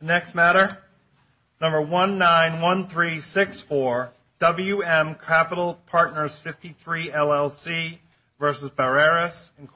Next matter, number 191364, WM Capital Partners 53, LLC v. Barreras, Inc.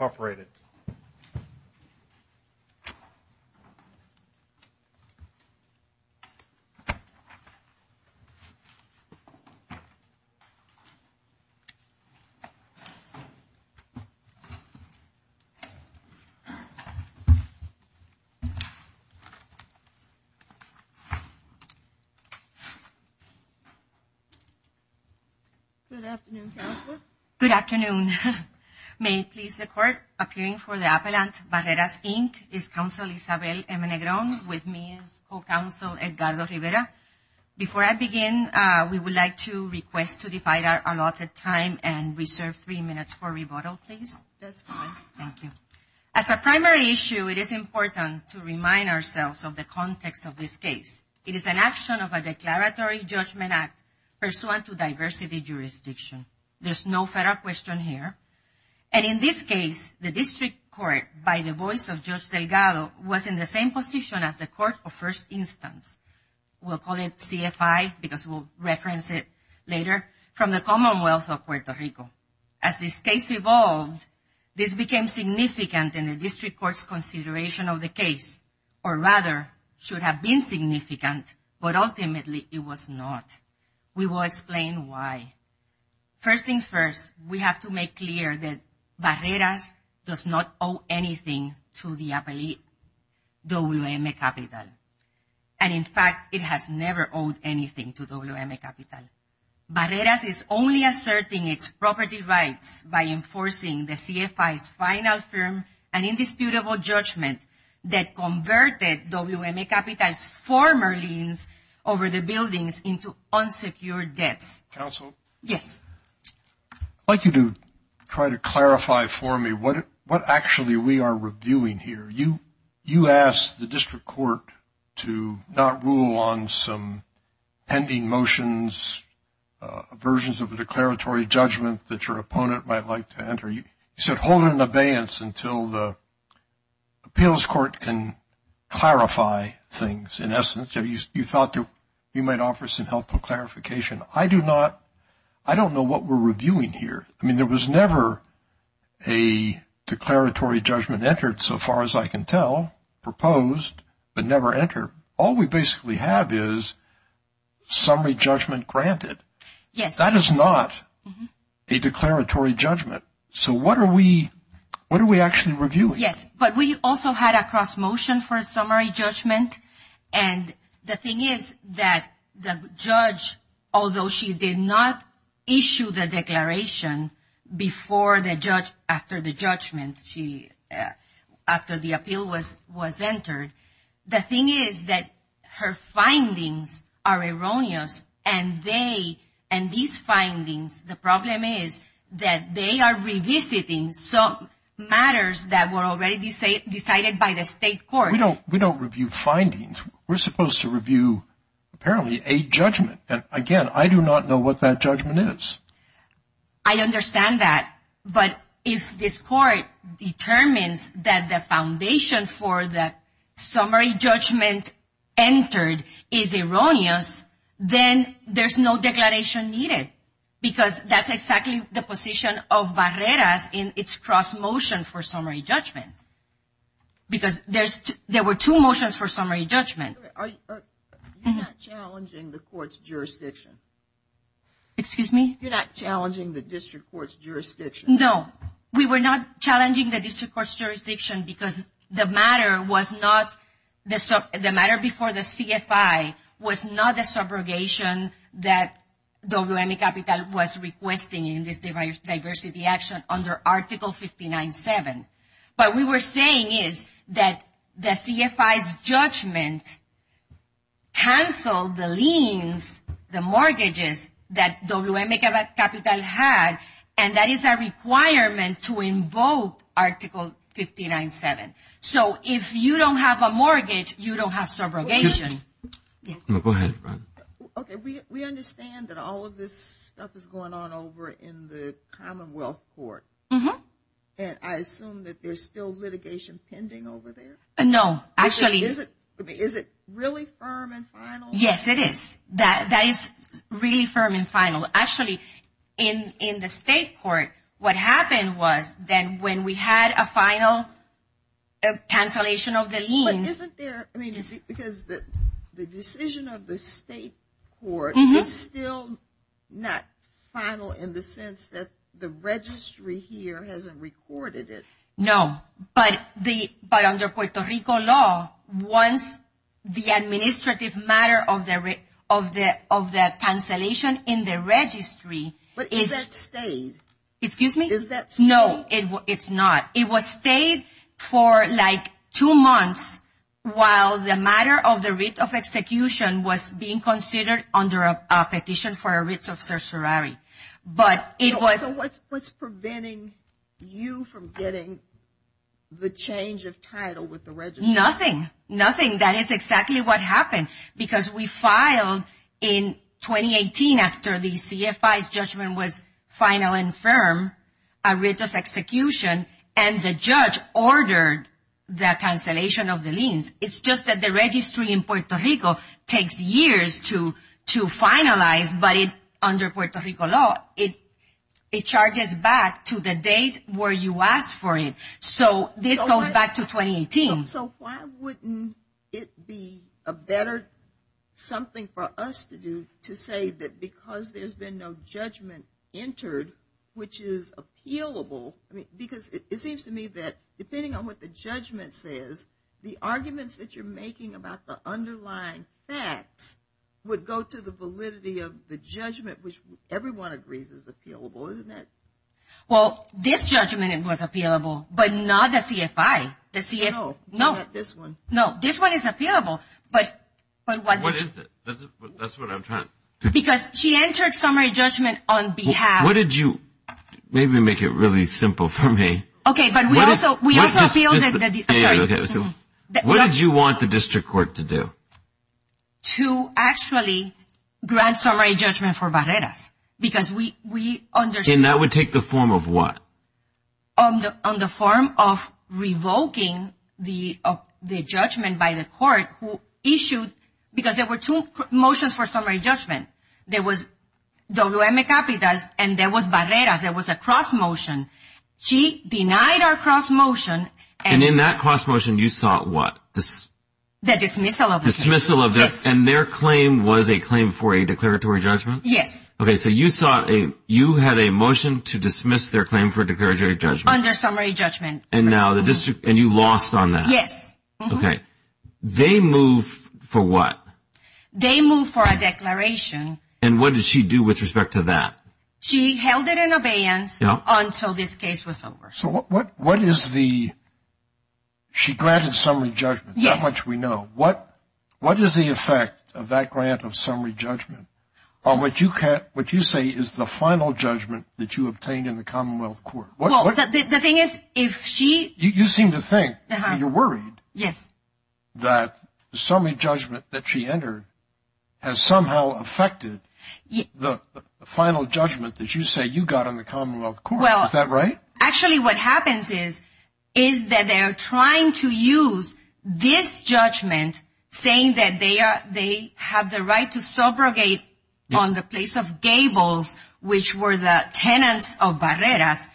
Good afternoon, Counselor. Good afternoon. May it please the Court, appearing for the Appellant, Barreras, Inc., is Counselor Isabel M. Negron. With me is Co-Counsel Edgardo Rivera. Before I begin, we would like to request to divide our allotted time and reserve three minutes for rebuttal, please. That's fine. Thank you. As a primary issue, it is important to remind ourselves of the context of this case. It is an action of a declaratory judgment act pursuant to diversity jurisdiction. There's no federal question here. And in this case, the District Court, by the voice of Judge Delgado, was in the same position as the Court of First Instance. We'll call it CFI because we'll reference it later, from the Commonwealth of Puerto Rico. As this case evolved, this became significant in the District Court's consideration of the case, or rather, should have been significant, but ultimately, it was not. We will explain why. First things first, we have to make clear that Barreras does not owe anything to the WM Capital. And in fact, it has never owed anything to WM Capital. Barreras is only asserting its property rights by enforcing the CFI's final firm and indisputable judgment that converted WM Capital's former liens over the buildings into unsecured debts. Counsel? Yes. I'd like you to try to clarify for me what actually we are reviewing here. You asked the District Court to not rule on some pending motions, versions of a declaratory judgment that your opponent might like to enter. You said hold an abeyance until the appeals court can clarify things, in essence. You thought you might offer some helpful clarification. I do not, I don't know what we're reviewing here. I mean, there was never a declaratory judgment entered, so far as I can tell, proposed, but never entered. All we basically have is summary judgment granted. Yes. That is not a declaratory judgment. So what are we actually reviewing? Yes, but we also had a cross motion for summary judgment. And the thing is that the judge, although she did not issue the declaration before the judge, after the judgment, after the problem is that they are revisiting some matters that were already decided by the state court. We don't review findings. We're supposed to review, apparently, a judgment. And again, I do not know what that judgment is. I understand that. But if this court determines that the foundation for the summary judgment entered is erroneous, then there's no declaration needed. Because that's exactly the position of Barreras in its cross motion for summary judgment. Because there were two motions for summary judgment. You're not challenging the court's jurisdiction. Excuse me? You're not challenging the district court's jurisdiction. No. We were not challenging the district court's jurisdiction because the matter before the CFI was not a subrogation that WM Capital was requesting in this diversity action under Article 59-7. What we were saying is that the CFI's judgment canceled the liens, the mortgages that WM Capital had, and that is a requirement to invoke Article 59-7. So if you don't have a mortgage, you don't have subrogation. Go ahead, Ron. We understand that all of this stuff is going on over in the Commonwealth Court. Mm-hmm. And I assume that there's still litigation pending over there? No, actually. Is it really firm and final? Yes, it is. That is really firm and final. Actually, in the state court, what happened was that when we had a final cancellation of the liens... But isn't there, I mean, because the decision of the state court is still not final in the sense that the registry here hasn't recorded it. No, but under Puerto Rico law, once the administrative matter of the cancellation in the registry... But is that stayed? Excuse me? Is that stayed? No, it's not. It was stayed for like two months while the matter of the writ of execution was being considered under a petition for a writ of certiorari. So what's preventing you from getting the change of title with the registry? Nothing. That is exactly what happened. Because we filed in 2018, after the CFI's judgment was final and firm, a writ of execution, and the judge ordered the cancellation of the liens. It's just that the registry in Puerto Rico takes years to finalize, but under Puerto Rico law, it charges back to the date where you asked for it. So this goes back to 2018. So why wouldn't it be a better something for us to do to say that because there's been no judgment entered, which is appealable, because it seems to me that depending on what the judgment says, the arguments that you're making about the underlying facts would go to the validity of the judgment, which everyone agrees is appealable, isn't it? Well, this judgment was appealable, but not the CFI. No, not this one. No, this one is appealable, but... What is it? That's what I'm trying to... Because she entered summary judgment on behalf... What did you... Maybe make it really simple for me. Okay, but we also appealed... Sorry. What did you want the district court to do? To actually grant summary judgment for Barreras, because we understood... And that would take the form of what? On the form of revoking the judgment by the court who issued, because there were two motions for summary judgment. There was W.M. Capitas and there was Barreras. There was a cross motion. She denied our cross motion and... And in that cross motion, you sought what? The dismissal of the... Dismissal of the... Yes. And their claim was a claim for a declaratory judgment? Yes. Okay, so you had a motion to dismiss their claim for a declaratory judgment. Under summary judgment. And you lost on that. Yes. Okay. They move for what? They move for a declaration. And what did she do with respect to that? She held it in abeyance until this case was over. So what is the... She granted summary judgment. Yes. That much we know. What is the effect of that grant of summary judgment on what you say is the final judgment that you obtained in the Commonwealth Court? Well, the thing is, if she... You seem to think, you're worried... Yes. That the summary judgment that she entered has somehow affected the final judgment that you say you got in the Commonwealth Court. Well... Is that right? Actually, what happens is, is that they are trying to use this judgment, saying that they have the right to subrogate on the place of Gables, which were the tenants of Barreras.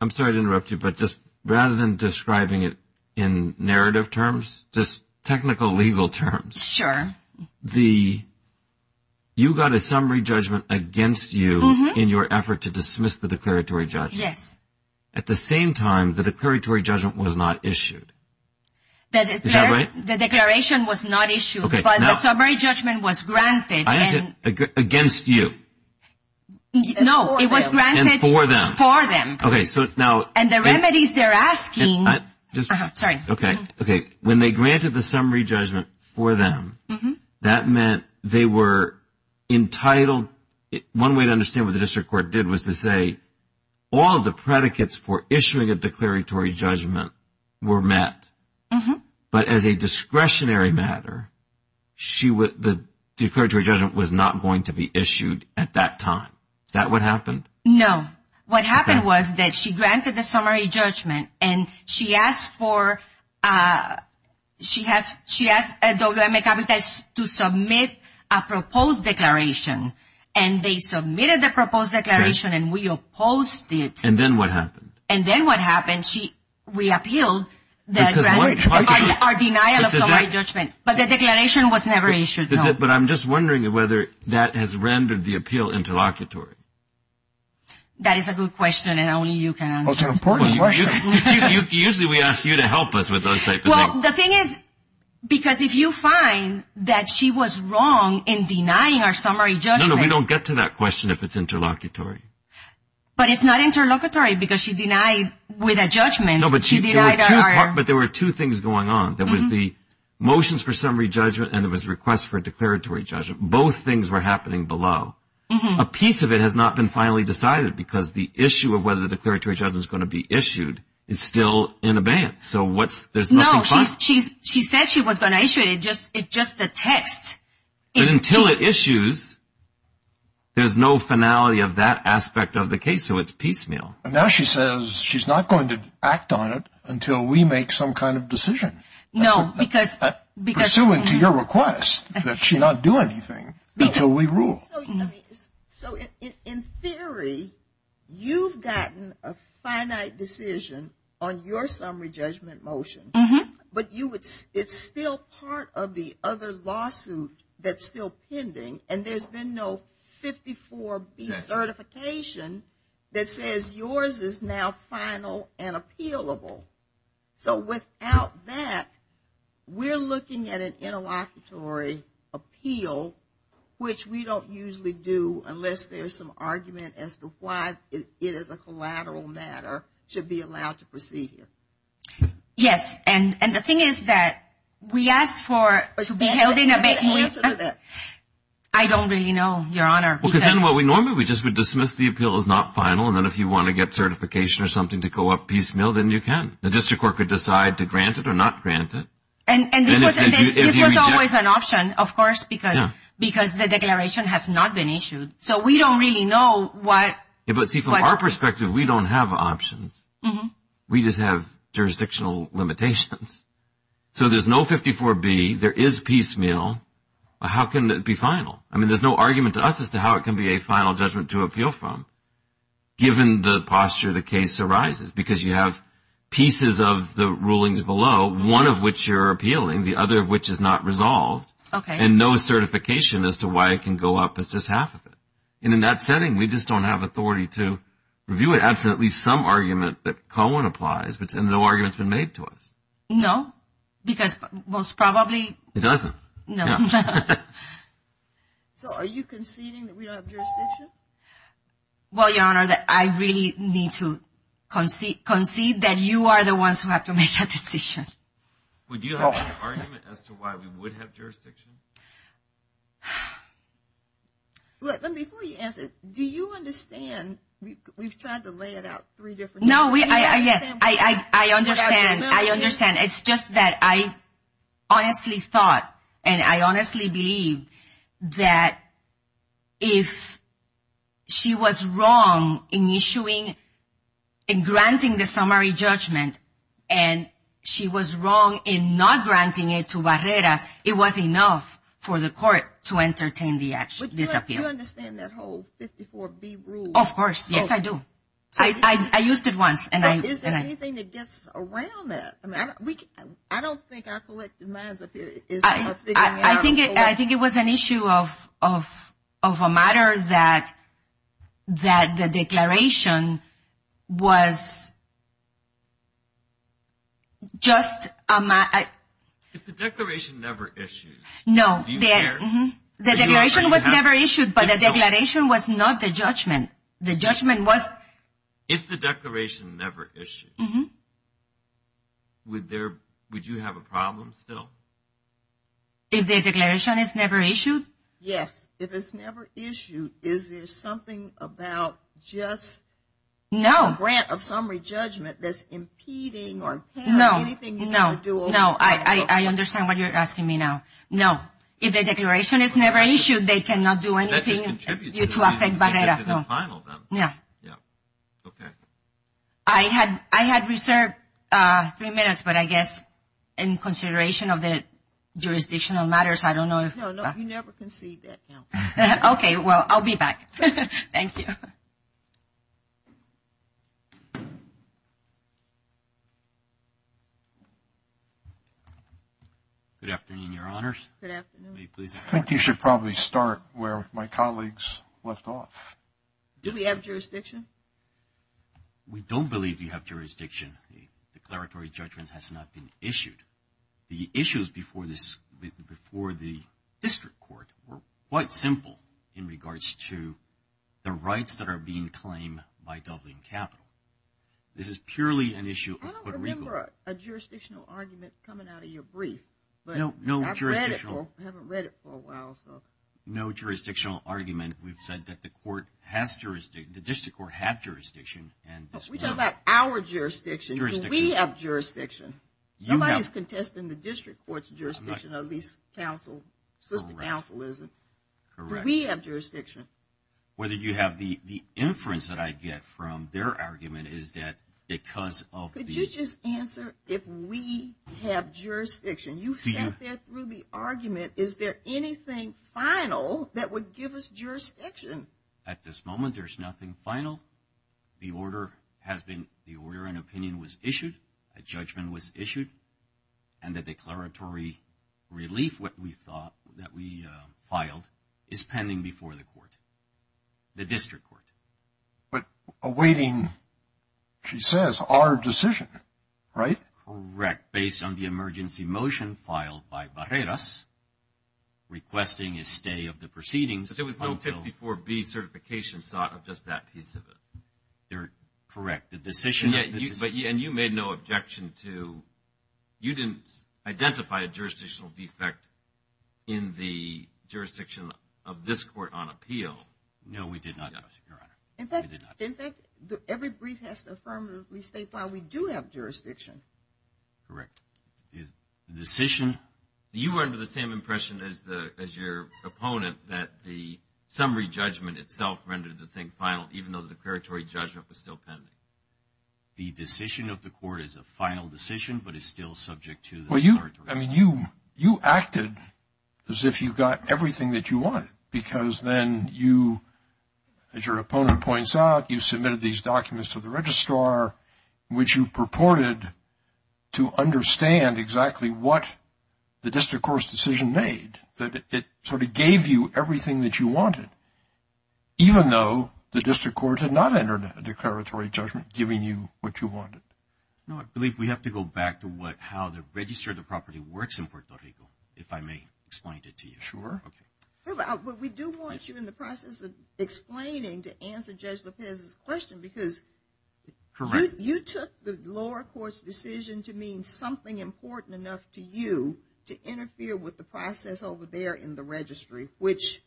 I'm sorry to interrupt you, but just rather than describing it in narrative terms, just technical legal terms. Sure. The... You got a summary judgment against you in your effort to dismiss the declaratory judgment. Yes. At the same time, the declaratory judgment was not issued. Is that right? The declaration was not issued, but the summary judgment was granted. Against you. No, it was granted... For them. Okay, so now... And the remedies they're asking... Sorry. Okay, okay. When they granted the summary judgment for them, that meant they were entitled... One way to understand what the district court did was to say, all of the predicates for issuing a declaratory judgment were met, but as a discretionary matter, the declaratory judgment was not going to be issued at that time. Is that what happened? No. What happened was that she granted the summary judgment, and she asked for... She asked WMA Capitas to submit a proposed declaration, and they submitted the proposed declaration, and we opposed it. And then what happened? And then what happened? We appealed our denial of summary judgment, but the declaration was never issued. But I'm just wondering whether that has rendered the appeal interlocutory. That is a good question, and only you can answer it. It's an important question. Usually we ask you to help us with those types of things. Well, the thing is, because if you find that she was wrong in denying our summary judgment... No, no, we don't get to that question if it's interlocutory. But it's not interlocutory because she denied with a judgment. No, but there were two things going on. There was the motions for summary judgment, and there was requests for a declaratory judgment. Both things were happening below. A piece of it has not been finally decided because the issue of whether the declaratory judgment is going to be issued is still in abeyance. So there's nothing final. No, she said she was going to issue it. It's just the text. But until it issues, there's no finality of that aspect of the case, so it's piecemeal. Now she says she's not going to act on it until we make some kind of decision. No, because... Pursuant to your request that she not do anything until we rule. So in theory, you've gotten a finite decision on your summary judgment motion, but it's still part of the other lawsuit that's still pending, and there's been no 54B certification that says yours is now final and appealable. So without that, we're looking at an interlocutory appeal, which we don't usually do unless there's some argument as to why it is a collateral matter to be allowed to proceed here. Yes, and the thing is that we asked for it to be held in abeyance. I don't really know, Your Honor. Well, because then what we normally would do is just dismiss the appeal as not final, and then if you want to get certification or something to go up piecemeal, then you can. The district court could decide to grant it or not grant it. And this was always an option, of course, because the declaration has not been issued. So we don't really know what... But see, from our perspective, we don't have options. We just have jurisdictional limitations. So there's no 54B. There is piecemeal. How can it be final? I mean, there's no argument to us as to how it can be a final judgment to appeal from, given the posture the case arises, because you have pieces of the rulings below, one of which you're appealing, the other of which is not resolved, and no certification as to why it can go up as just half of it. And in that setting, we just don't have authority to review it. There's absolutely some argument that Cohen applies, but no argument has been made to us. No, because most probably... It doesn't. No. So are you conceding that we don't have jurisdiction? Well, Your Honor, I really need to concede that you are the ones who have to make a decision. Would you have an argument as to why we would have jurisdiction? Look, before you answer, do you understand? We've tried to lay it out three different ways. No, yes, I understand. I understand. It's just that I honestly thought and I honestly believe that if she was wrong in issuing and granting the summary judgment and she was wrong in not granting it to Barreras, it was enough for the court to entertain this appeal. But do you understand that whole 54B rule? Of course. Yes, I do. I used it once. So is there anything that gets around that? I don't think our collective minds up here is... I think it was an issue of a matter that the declaration was just... If the declaration never issued... No. The declaration was never issued, but the declaration was not the judgment. The judgment was... If the declaration never issued, would you have a problem still? If the declaration is never issued? Yes. If it's never issued, is there something about just a grant of summary judgment that's impeding No. No. I understand what you're asking me now. No. If the declaration is never issued, they cannot do anything to affect Barreras. No. No. Okay. I had reserved three minutes, but I guess in consideration of the jurisdictional matters, I don't know if... No, you never concede that count. Okay. Well, I'll be back. Thank you. Good afternoon, Your Honors. Good afternoon. I think you should probably start where my colleagues left off. Do we have jurisdiction? We don't believe we have jurisdiction. The declaratory judgment has not been issued. The issues before the district court were quite simple in regards to the rights that are being claimed by Dublin Capital. This is purely an issue of Puerto Rico. I don't remember a jurisdictional argument coming out of your brief. No jurisdictional... I haven't read it for a while, so... No jurisdictional argument. We've said that the court has jurisdiction, the district court have jurisdiction. We're talking about our jurisdiction. Jurisdiction. Do we have jurisdiction? You have... Nobody's contesting the district court's jurisdiction, at least counsel, solicitor counsel isn't. Correct. Do we have jurisdiction? Whether you have the inference that I get from their argument is that because of the... Could you just answer if we have jurisdiction? You've sat there through the argument. Is there anything final that would give us jurisdiction? At this moment, there's nothing final. The order has been... A judgment was issued, and the declaratory relief that we filed is pending before the court, the district court. But awaiting, she says, our decision, right? Correct. Based on the emergency motion filed by Barreras, requesting a stay of the proceedings until... But there was no 54B certification sought of just that piece of it. Correct. And you made no objection to... You didn't identify a jurisdictional defect in the jurisdiction of this court on appeal. No, we did not, Your Honor. In fact, every brief has to affirmatively state why we do have jurisdiction. Correct. The decision... You were under the same impression as your opponent that the summary judgment itself rendered the thing final, even though the declaratory judgment was still pending. The decision of the court is a final decision but is still subject to the declaratory... Well, you acted as if you got everything that you wanted, because then you, as your opponent points out, you submitted these documents to the registrar, which you purported to understand exactly what the district court's decision made, that it sort of gave you everything that you wanted, even though the district court had not entered a declaratory judgment giving you what you wanted. No, I believe we have to go back to how the register of the property works in Puerto Rico, if I may explain it to you. Sure. Okay. But we do want you, in the process of explaining, to answer Judge Lopez's question, because... Correct. You took the lower court's decision to mean something important enough to you to interfere with the process over there in the registry, which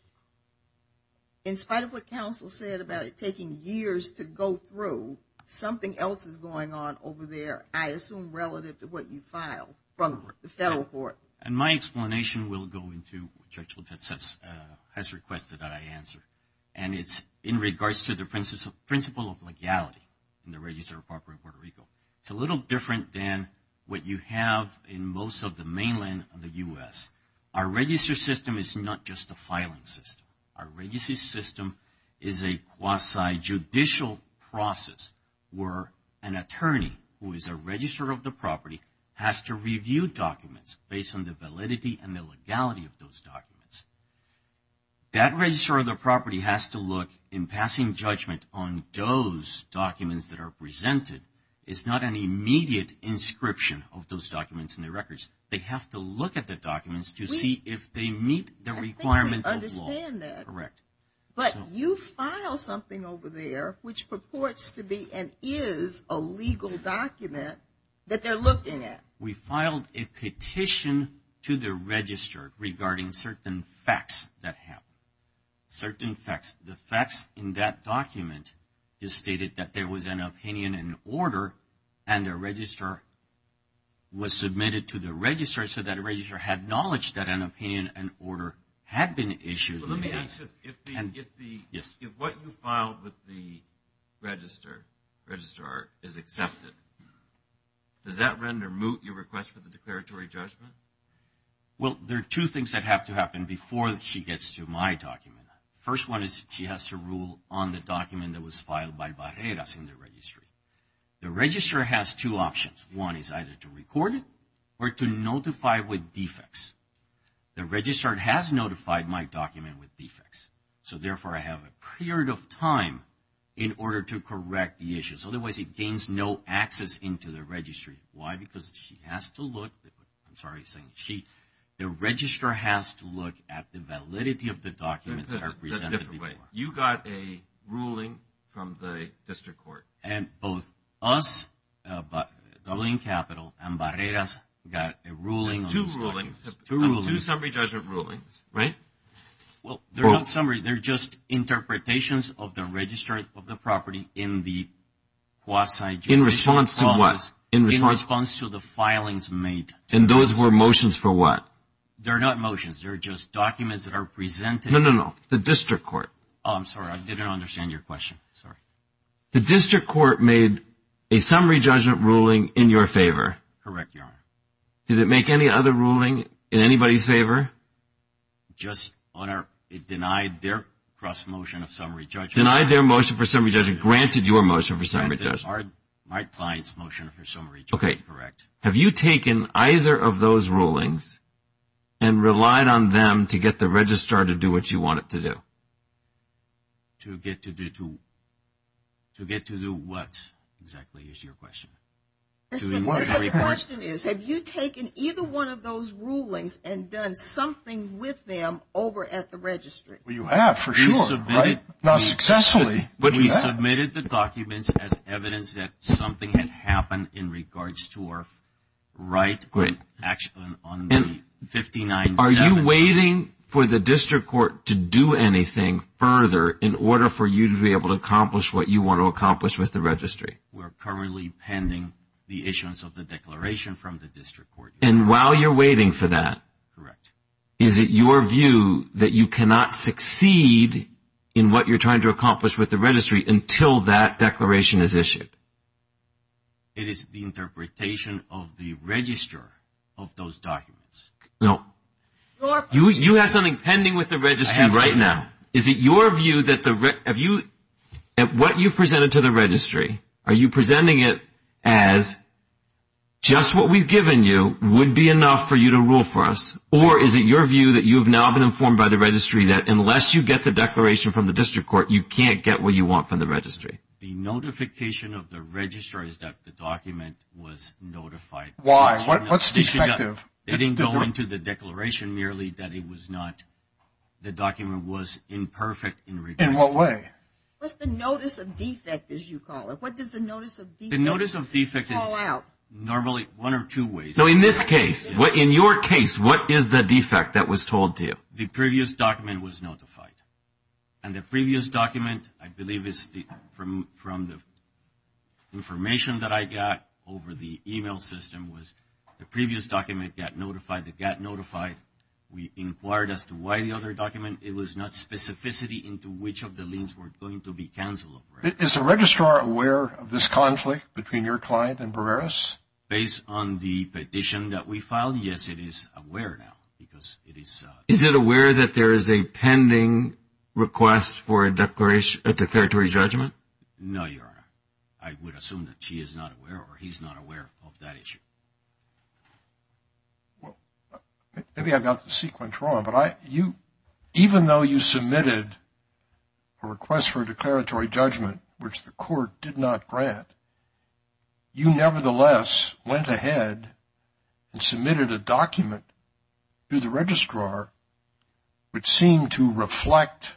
in spite of what counsel said about it taking years to go through, something else is going on over there, I assume relative to what you filed from the federal court. And my explanation will go into what Judge Lopez has requested that I answer, and it's in regards to the principle of legality in the register of property in Puerto Rico. It's a little different than what you have in most of the mainland of the U.S. Our register system is not just a filing system. Our register system is a quasi-judicial process where an attorney who is a registrar of the property has to review documents based on the validity and the legality of those documents. That registrar of the property has to look in passing judgment on those documents that are presented It's not an immediate inscription of those documents in the records. They have to look at the documents to see if they meet the requirements of law. I think we understand that. Correct. But you file something over there which purports to be and is a legal document that they're looking at. We filed a petition to the register regarding certain facts that happened. Certain facts. The facts in that document just stated that there was an opinion and order and the registrar was submitted to the registrar so that the registrar had knowledge that an opinion and order had been issued. Let me ask this. Yes. If what you filed with the registrar is accepted, does that render moot your request for the declaratory judgment? Well, there are two things that have to happen before she gets to my document. The first one is she has to rule on the document that was filed by Barreras in the registry. The registrar has two options. One is either to record it or to notify with defects. The registrar has notified my document with defects. So, therefore, I have a period of time in order to correct the issues. Otherwise, it gains no access into the registry. Why? Because she has to look. I'm sorry, I'm saying she. The registrar has to look at the validity of the documents that are presented before. You got a ruling from the district court. And both us, Dublin Capital, and Barreras got a ruling. Two rulings. Two rulings. Two summary judgment rulings, right? Well, they're not summaries. They're just interpretations of the register of the property in the quasi-judicial process. In response to what? In response to the filings made. And those were motions for what? They're not motions. They're just documents that are presented. No, no, no. The district court. Oh, I'm sorry. I didn't understand your question. Sorry. The district court made a summary judgment ruling in your favor. Correct, Your Honor. Did it make any other ruling in anybody's favor? Just, Your Honor, it denied their cross-motion of summary judgment. Denied their motion for summary judgment. Granted your motion for summary judgment. My client's motion for summary judgment. Okay. Correct. Have you taken either of those rulings and relied on them to get the registrar to do what you want it to do? To get to do what, exactly, is your question? The question is, have you taken either one of those rulings and done something with them over at the registry? Well, you have, for sure, right? Not successfully. We submitted the documents as evidence that something had happened in regards to our right on the 59-7. Are you waiting for the district court to do anything further in order for you to be able to accomplish what you want to accomplish with the registry? We're currently pending the issuance of the declaration from the district court. And while you're waiting for that? Correct. Is it your view that you cannot succeed in what you're trying to accomplish with the registry until that declaration is issued? It is the interpretation of the register of those documents. No. You have something pending with the registry right now. I have something. Is it your view that what you presented to the registry, are you presenting it as just what we've given you would be enough for you to rule for us? Or is it your view that you have now been informed by the registry that unless you get the declaration from the district court, you can't get what you want from the registry? The notification of the registrar is that the document was notified. Why? What's defective? It didn't go into the declaration merely that it was not. The document was imperfect in regards to it. In what way? What's the notice of defect, as you call it? What does the notice of defect fall out? The notice of defect is normally one or two ways. So in this case, in your case, what is the defect that was told to you? The previous document was notified. And the previous document, I believe, is from the information that I got over the e-mail system, was the previous document got notified. It got notified. We inquired as to why the other document. It was not specificity into which of the liens were going to be canceled. Is the registrar aware of this conflict between your client and Barreras? Based on the petition that we filed, yes, it is aware now because it is. Is it aware that there is a pending request for a declaratory judgment? No, Your Honor. I would assume that she is not aware or he's not aware of that issue. Maybe I got the sequence wrong, but even though you submitted a request for a declaratory judgment, which the court did not grant, you nevertheless went ahead and submitted a document to the registrar which seemed to reflect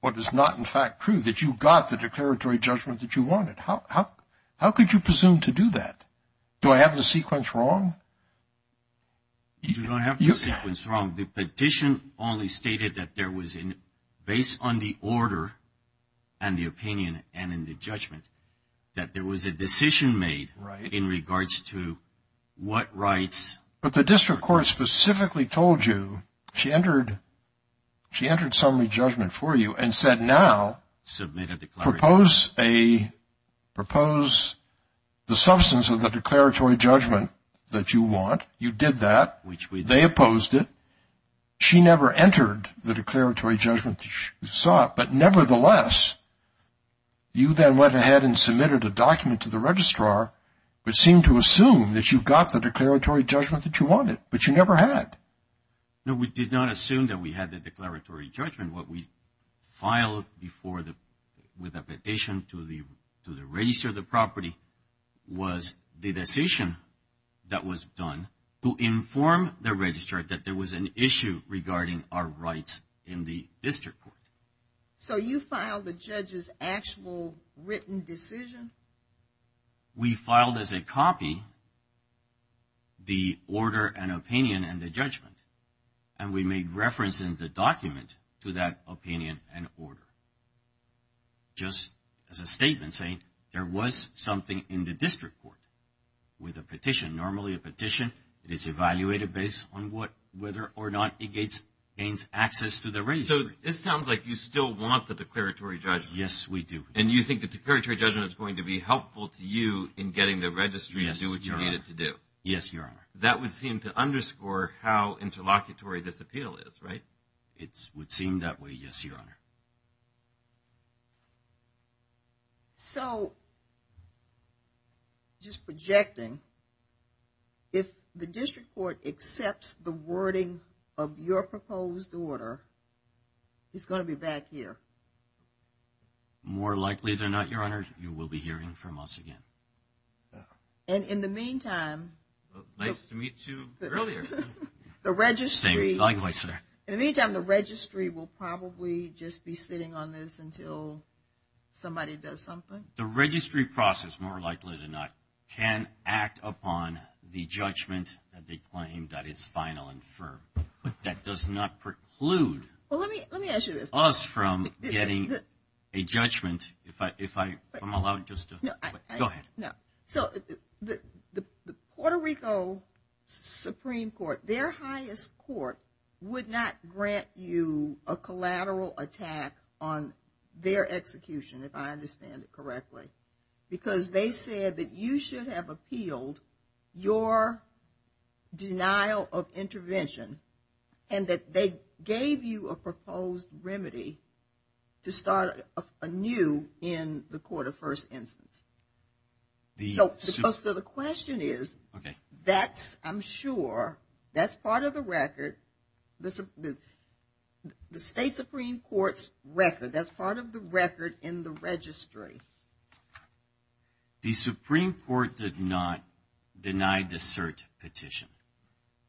what is not in fact true, that you got the declaratory judgment that you wanted. How could you presume to do that? Do I have the sequence wrong? You don't have the sequence wrong. The petition only stated that based on the order and the opinion and in the judgment that there was a decision made in regards to what rights. But the district court specifically told you she entered summary judgment for you and said now propose the substance of the declaratory judgment that you want. You did that. They opposed it. She never entered the declaratory judgment that you sought, but nevertheless you then went ahead and submitted a document to the registrar which seemed to assume that you got the declaratory judgment that you wanted, but you never had. No, we did not assume that we had the declaratory judgment. What we filed with a petition to the register of the property was the decision that was done to inform the registrar that there was an issue regarding our rights in the district court. So you filed the judge's actual written decision? We filed as a copy the order and opinion and the judgment, and we made reference in the document to that opinion and order, just as a statement saying there was something in the district court with a petition, and normally a petition is evaluated based on whether or not it gains access to the registry. So it sounds like you still want the declaratory judgment. Yes, we do. And you think the declaratory judgment is going to be helpful to you in getting the registry to do what you need it to do? Yes, Your Honor. That would seem to underscore how interlocutory this appeal is, right? It would seem that way, yes, Your Honor. So, just projecting, if the district court accepts the wording of your proposed order, it's going to be back here? More likely than not, Your Honor, you will be hearing from us again. And in the meantime. Nice to meet you earlier. The registry. Same, likewise, sir. In the meantime, the registry will probably just be sitting on this until somebody does something? The registry process, more likely than not, can act upon the judgment that they claim that is final and firm, but that does not preclude us from getting a judgment. If I'm allowed just to go ahead. So, the Puerto Rico Supreme Court, their highest court would not grant you a collateral attack on their execution, if I understand it correctly, because they said that you should have appealed your denial of intervention and that they gave you a proposed remedy to start anew in the court of first instance. So, the question is, that's, I'm sure, that's part of the record. The state Supreme Court's record, that's part of the record in the registry. The Supreme Court did not deny the cert petition.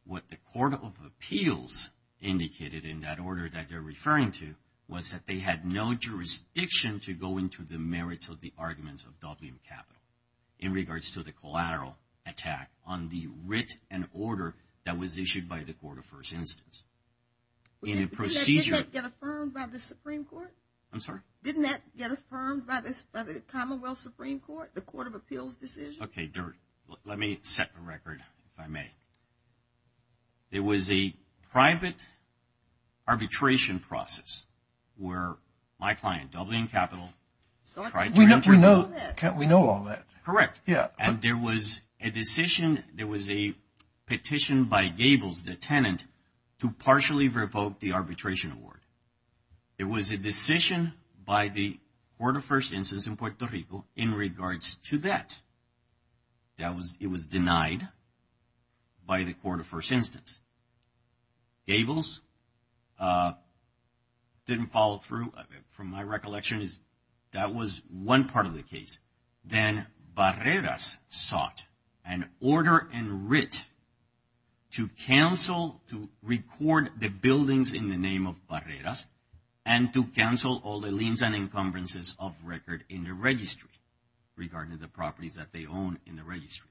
What the Court of Appeals indicated in that order that they're referring to was that they had no jurisdiction to go into the merits of the arguments of Dublin Capital in regards to the collateral attack on the writ and order that was issued by the court of first instance. In a procedure. Didn't that get affirmed by the Supreme Court? I'm sorry? Didn't that get affirmed by the Commonwealth Supreme Court, the Court of Appeals decision? Okay, let me set the record, if I may. There was a private arbitration process where my client, Dublin Capital. Can't we know all that? Correct. And there was a decision, there was a petition by Gables, the tenant, to partially revoke the arbitration award. It was a decision by the court of first instance in Puerto Rico in regards to that. It was denied by the court of first instance. Gables didn't follow through. From my recollection, that was one part of the case. Then Barreras sought an order in writ to cancel, to record the buildings in the name of Barreras and to cancel all the liens and encumbrances of record in the registry regarding the properties that they own in the registry.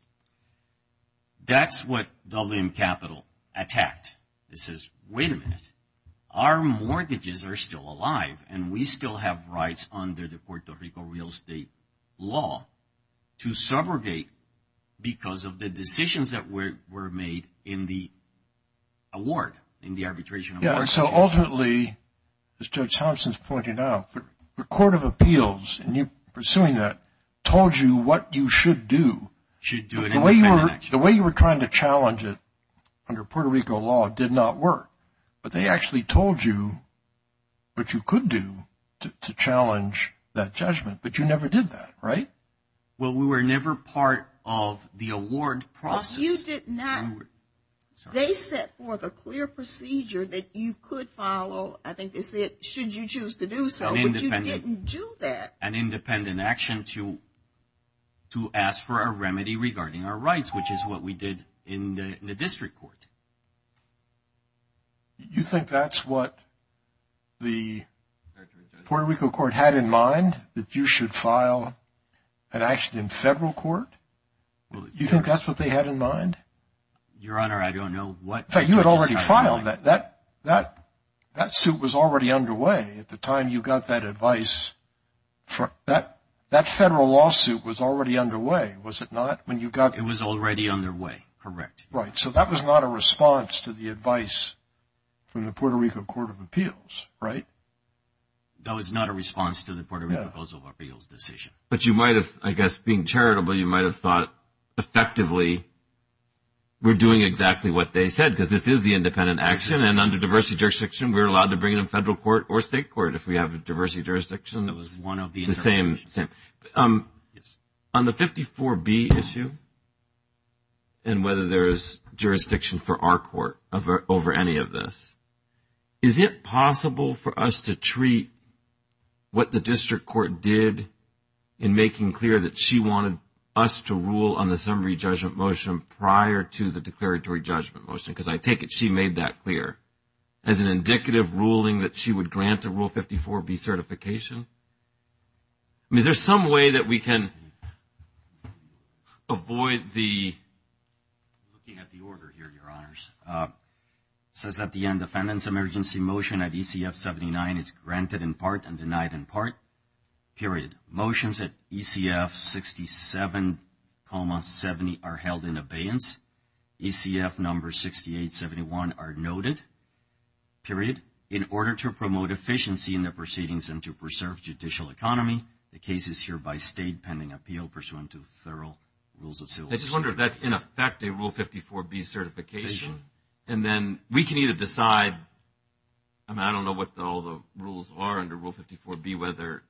That's what Dublin Capital attacked. It says, wait a minute, our mortgages are still alive and we still have rights under the Puerto Rico real estate law to subrogate because of the decisions that were made in the award, in the arbitration award. And so ultimately, as Judge Thompson has pointed out, the court of appeals, in pursuing that, told you what you should do. The way you were trying to challenge it under Puerto Rico law did not work. But they actually told you what you could do to challenge that judgment. But you never did that, right? Well, we were never part of the award process. They set forth a clear procedure that you could follow, I think they said, should you choose to do so, but you didn't do that. An independent action to ask for a remedy regarding our rights, which is what we did in the district court. You think that's what the Puerto Rico court had in mind, that you should file an action in federal court? You think that's what they had in mind? Your Honor, I don't know what they had in mind. You had already filed that. That suit was already underway at the time you got that advice. That federal lawsuit was already underway, was it not? It was already underway, correct. Right. So that was not a response to the advice from the Puerto Rico court of appeals, right? That was not a response to the Puerto Rico court of appeals decision. But you might have, I guess, being charitable, you might have thought effectively we're doing exactly what they said, because this is the independent action, and under diversity jurisdiction, we're allowed to bring it in federal court or state court, if we have a diversity jurisdiction. That was one of the interpretations. The same. On the 54B issue, and whether there is jurisdiction for our court over any of this, is it possible for us to treat what the district court did in making clear that she wanted us to rule on the summary judgment motion prior to the declaratory judgment motion, because I take it she made that clear, as an indicative ruling that she would grant a Rule 54B certification? I mean, is there some way that we can avoid the... Looking at the order here, Your Honors. It says at the end, defendant's emergency motion at ECF 79 is granted in part and denied in part, period. Motions at ECF 67, 70 are held in abeyance. ECF number 68, 71 are noted, period. In order to promote efficiency in the proceedings and to preserve judicial economy, the case is hereby stayed pending appeal pursuant to thorough rules of civil... I just wonder if that's, in effect, a Rule 54B certification, and then we can either decide... I mean, I don't know what all the rules are under Rule 54B, whether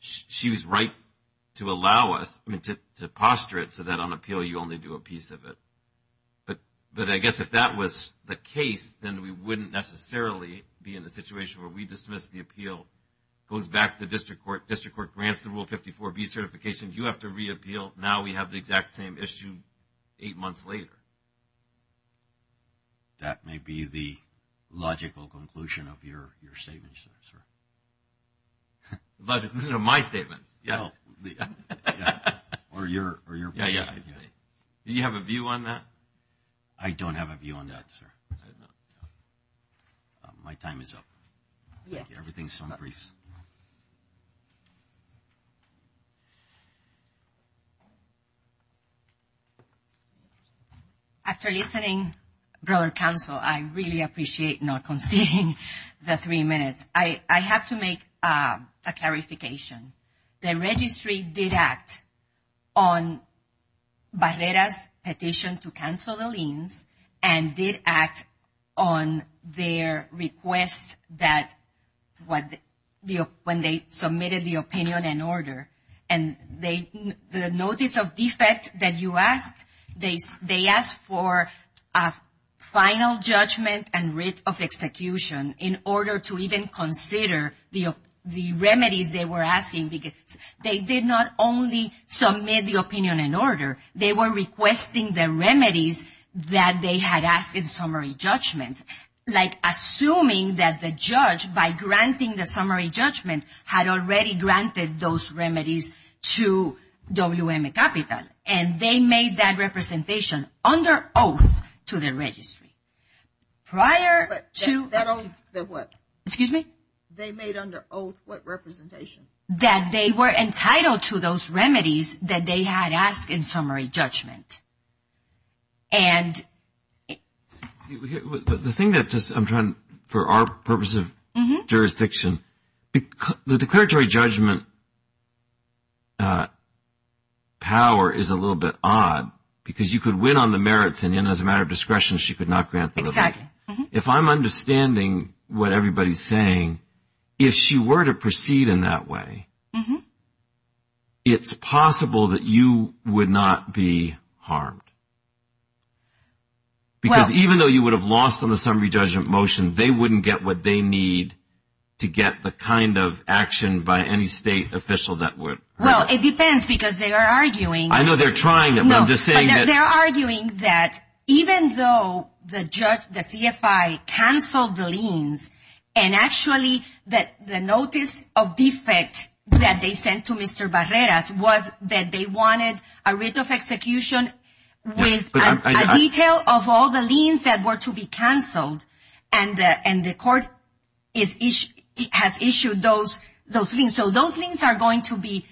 she was right to allow us, I mean, to posture it so that on appeal you only do a piece of it. But I guess if that was the case, then we wouldn't necessarily be in the situation where we dismiss the appeal, goes back to the district court, district court grants the Rule 54B certification, you have to reappeal, now we have the exact same issue eight months later. That may be the logical conclusion of your statement, sir. Logical conclusion of my statement, yes. Or your position. Do you have a view on that? I don't have a view on that, sir. My time is up. Yes. Everything's so brief. After listening, brother counsel, I really appreciate not conceding the three minutes. I have to make a clarification. The registry did act on Barrera's petition to cancel the liens and did act on their request that when they submitted the opinion and order. And the notice of defect that you asked, they asked for a final judgment and writ of execution in order to even consider the remedies they were asking. They did not only submit the opinion and order. They were requesting the remedies that they had asked in summary judgment, like assuming that the judge, by granting the summary judgment, had already granted those remedies to WM Capital. And they made that representation under oath to the registry. Prior to the what? Excuse me? They made under oath what representation? That they were entitled to those remedies that they had asked in summary judgment. The thing that just I'm trying, for our purpose of jurisdiction, the declaratory judgment power is a little bit odd because you could win on the merits and then as a matter of discretion she could not grant the remedy. Exactly. If I'm understanding what everybody's saying, if she were to proceed in that way, it's possible that you would not be harmed. Because even though you would have lost on the summary judgment motion, they wouldn't get what they need to get the kind of action by any state official that would. Well, it depends because they are arguing. I know they're trying, but I'm just saying that. They're arguing that even though the judge, the CFI, canceled the liens, and actually the notice of defect that they sent to Mr. Barreras was that they wanted a writ of execution with a detail of all the liens that were to be canceled. And the court has issued those liens. So those liens are going to be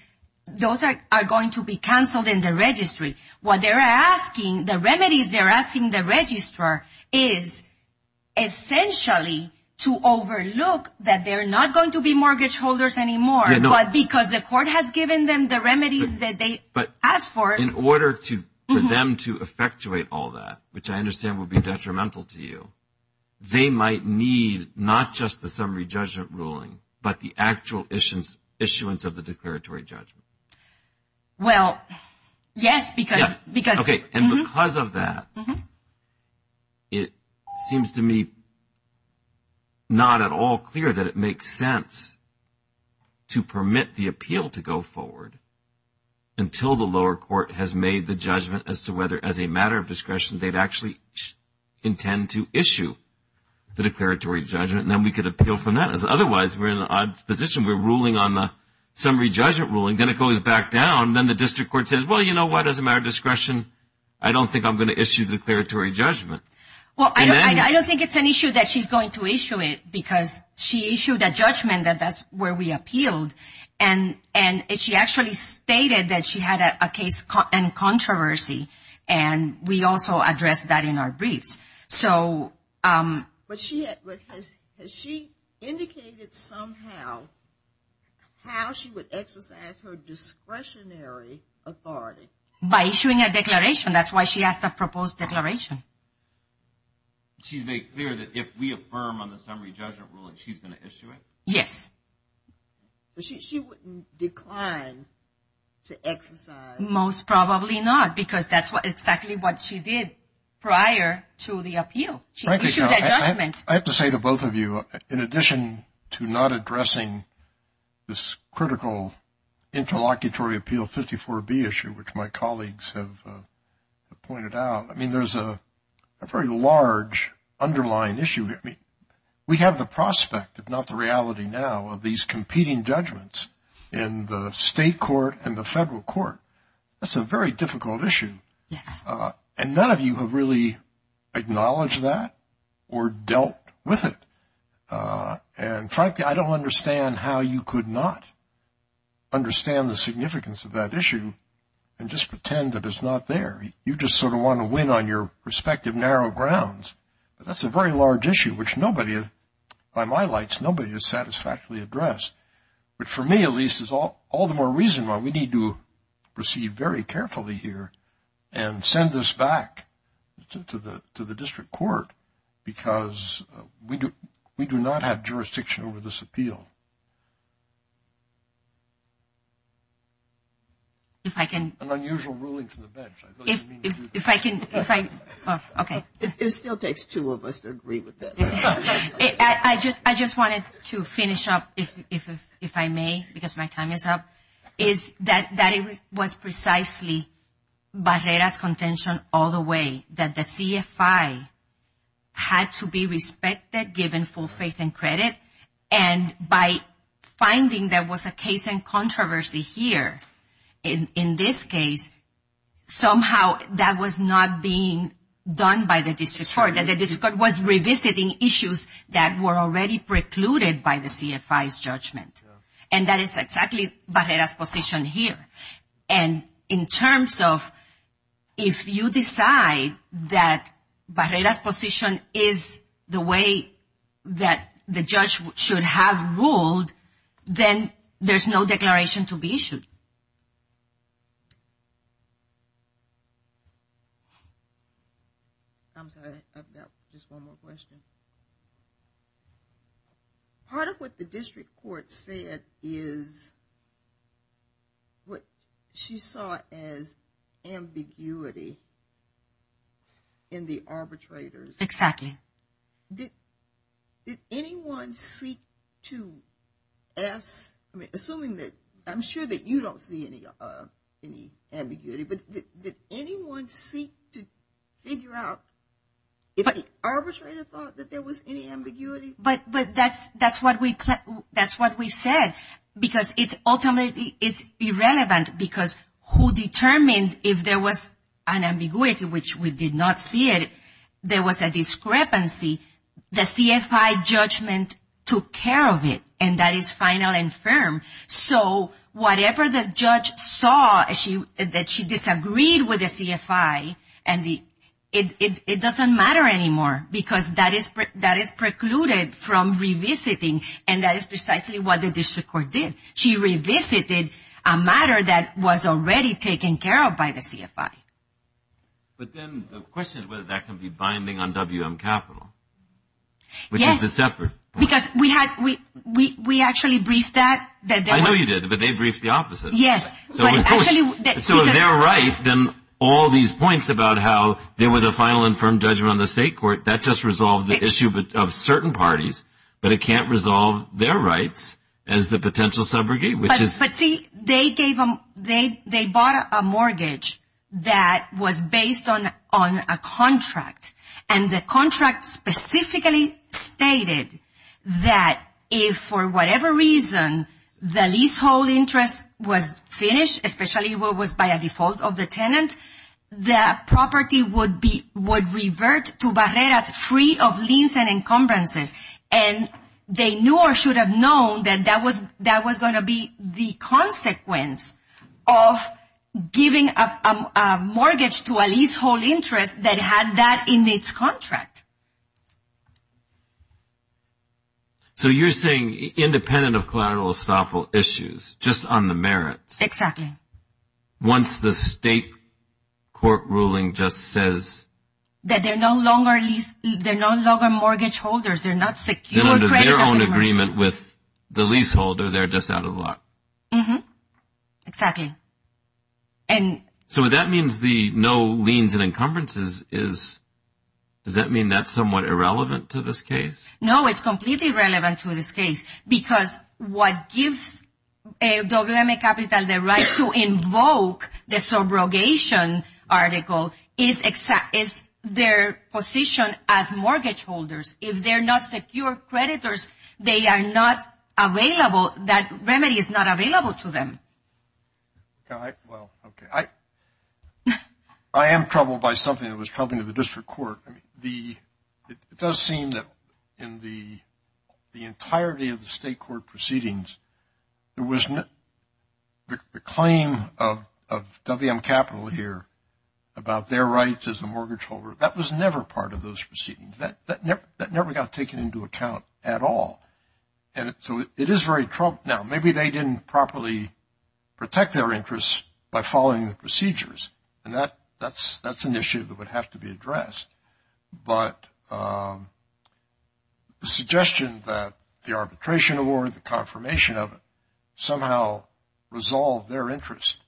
canceled in the registry. What they're asking, the remedies they're asking the registrar is essentially to overlook that they're not going to be mortgage holders anymore, but because the court has given them the remedies that they asked for. But in order for them to effectuate all that, which I understand would be detrimental to you, they might need not just the summary judgment ruling, but the actual issuance of the declaratory judgment. Well, yes, because. Okay. And because of that, it seems to me not at all clear that it makes sense to permit the appeal to go forward until the lower court has made the judgment as to whether as a matter of discretion they'd actually intend to issue the declaratory judgment, and then we could appeal from that. Because otherwise we're in an odd position. We're ruling on the summary judgment ruling. Then it goes back down. Then the district court says, well, you know what, as a matter of discretion, I don't think I'm going to issue the declaratory judgment. Well, I don't think it's an issue that she's going to issue it, because she issued a judgment that that's where we appealed. And she actually stated that she had a case in controversy, and we also addressed that in our briefs. But has she indicated somehow how she would exercise her discretionary authority? By issuing a declaration. That's why she has a proposed declaration. She's made clear that if we affirm on the summary judgment ruling, she's going to issue it? But she wouldn't decline to exercise. Most probably not, because that's exactly what she did prior to the appeal. She issued that judgment. I have to say to both of you, in addition to not addressing this critical interlocutory appeal 54B issue, which my colleagues have pointed out, I mean, there's a very large underlying issue here. I mean, we have the prospect, if not the reality now, of these competing judgments in the state court and the federal court. That's a very difficult issue. And none of you have really acknowledged that or dealt with it. And frankly, I don't understand how you could not understand the significance of that issue and just pretend that it's not there. You just sort of want to win on your respective narrow grounds. But that's a very large issue, which nobody, by my lights, nobody has satisfactorily addressed. But for me, at least, is all the more reason why we need to proceed very carefully here and send this back to the district court, because we do not have jurisdiction over this appeal. An unusual ruling from the bench. If I can, if I, okay. It still takes two of us to agree with this. I just wanted to finish up, if I may, because my time is up, is that it was precisely Barrera's contention all the way, that the CFI had to be respected, given full faith and credit. And by finding there was a case in controversy here, in this case, somehow that was not being done by the district court, that the district court was revisiting issues that were already precluded by the CFI's judgment. And that is exactly Barrera's position here. And in terms of, if you decide that Barrera's position is the way that the judge should have ruled, then there's no declaration to be issued. I'm sorry, I've got just one more question. Part of what the district court said is what she saw as ambiguity in the arbitrators. Exactly. Did anyone seek to ask, assuming that, I'm sure that you don't see any ambiguity, but did anyone seek to figure out if the arbitrator thought that there was any ambiguity? But that's what we said, because ultimately it's irrelevant, because who determined if there was an ambiguity, which we did not see it, there was a discrepancy. The CFI judgment took care of it, and that is final and firm. So whatever the judge saw that she disagreed with the CFI, it doesn't matter anymore, because that is precluded from revisiting, and that is precisely what the district court did. She revisited a matter that was already taken care of by the CFI. But then the question is whether that can be binding on WM Capital, which is a separate point. Because we actually briefed that. I know you did, but they briefed the opposite. Yes. So if they're right, then all these points about how there was a final and firm judgment on the state court, that just resolved the issue of certain parties, but it can't resolve their rights as the potential subrogate. But see, they bought a mortgage that was based on a contract, and the contract specifically stated that if for whatever reason the leasehold interest was finished, especially what was by a default of the tenant, that property would revert to Barreras free of liens and encumbrances. And they knew or should have known that that was going to be the consequence of giving a mortgage to a leasehold interest that had that in its contract. So you're saying independent of collateral estoppel issues, just on the merits. Exactly. Once the state court ruling just says. That they're no longer mortgage holders, they're not secure creditors anymore. They're under their own agreement with the leaseholder, they're just out of luck. Exactly. So what that means, the no liens and encumbrances, does that mean that's somewhat irrelevant to this case? No, it's completely irrelevant to this case. Because what gives WM Capital the right to invoke the subrogation article is their position as mortgage holders. If they're not secure creditors, they are not available, that remedy is not available to them. Well, okay. I am troubled by something that was coming to the district court. It does seem that in the entirety of the state court proceedings, there was the claim of WM Capital here about their rights as a mortgage holder. That was never part of those proceedings. That never got taken into account at all. And so it is very troubling. Now, maybe they didn't properly protect their interests by following the procedures. And that's an issue that would have to be addressed. But the suggestion that the arbitration award, the confirmation of it, somehow resolved their interest.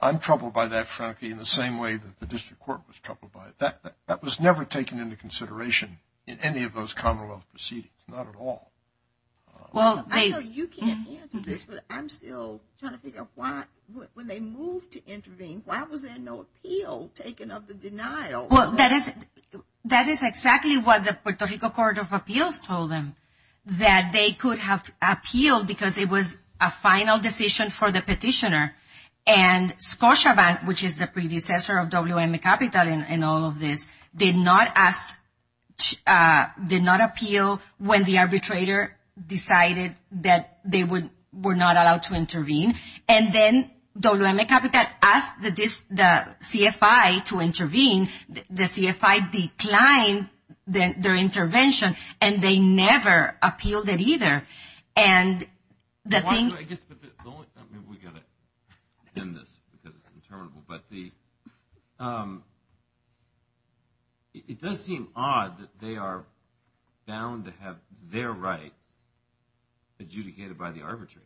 I'm troubled by that, frankly, in the same way that the district court was troubled by it. That was never taken into consideration in any of those commonwealth proceedings, not at all. I know you can't answer this, but I'm still trying to figure out why, when they moved to intervene, why was there no appeal taken of the denial? Well, that is exactly what the Puerto Rico Court of Appeals told them, that they could have appealed because it was a final decision for the petitioner. And Scotiabank, which is the predecessor of WM Capital in all of this, did not appeal when the arbitrator decided that they were not allowed to intervene. And then WM Capital asked the CFI to intervene. The CFI declined their intervention, and they never appealed it either. And the thing... I guess the only... I mean, we've got to end this because it's interminable. But it does seem odd that they are bound to have their rights adjudicated by the arbitrator.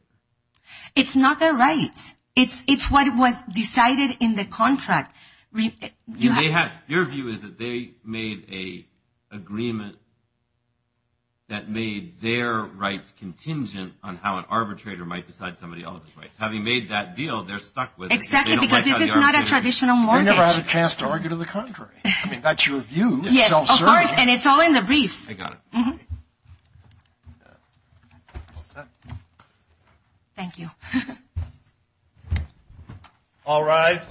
It's not their rights. It's what was decided in the contract. Your view is that they made an agreement that made their rights contingent on how an arbitrator might decide somebody else's rights. Having made that deal, they're stuck with it. Exactly, because this is not a traditional mortgage. They never had a chance to argue to the contrary. I mean, that's your view. Yes, of course, and it's all in the briefs. I got it. Thank you. All rise.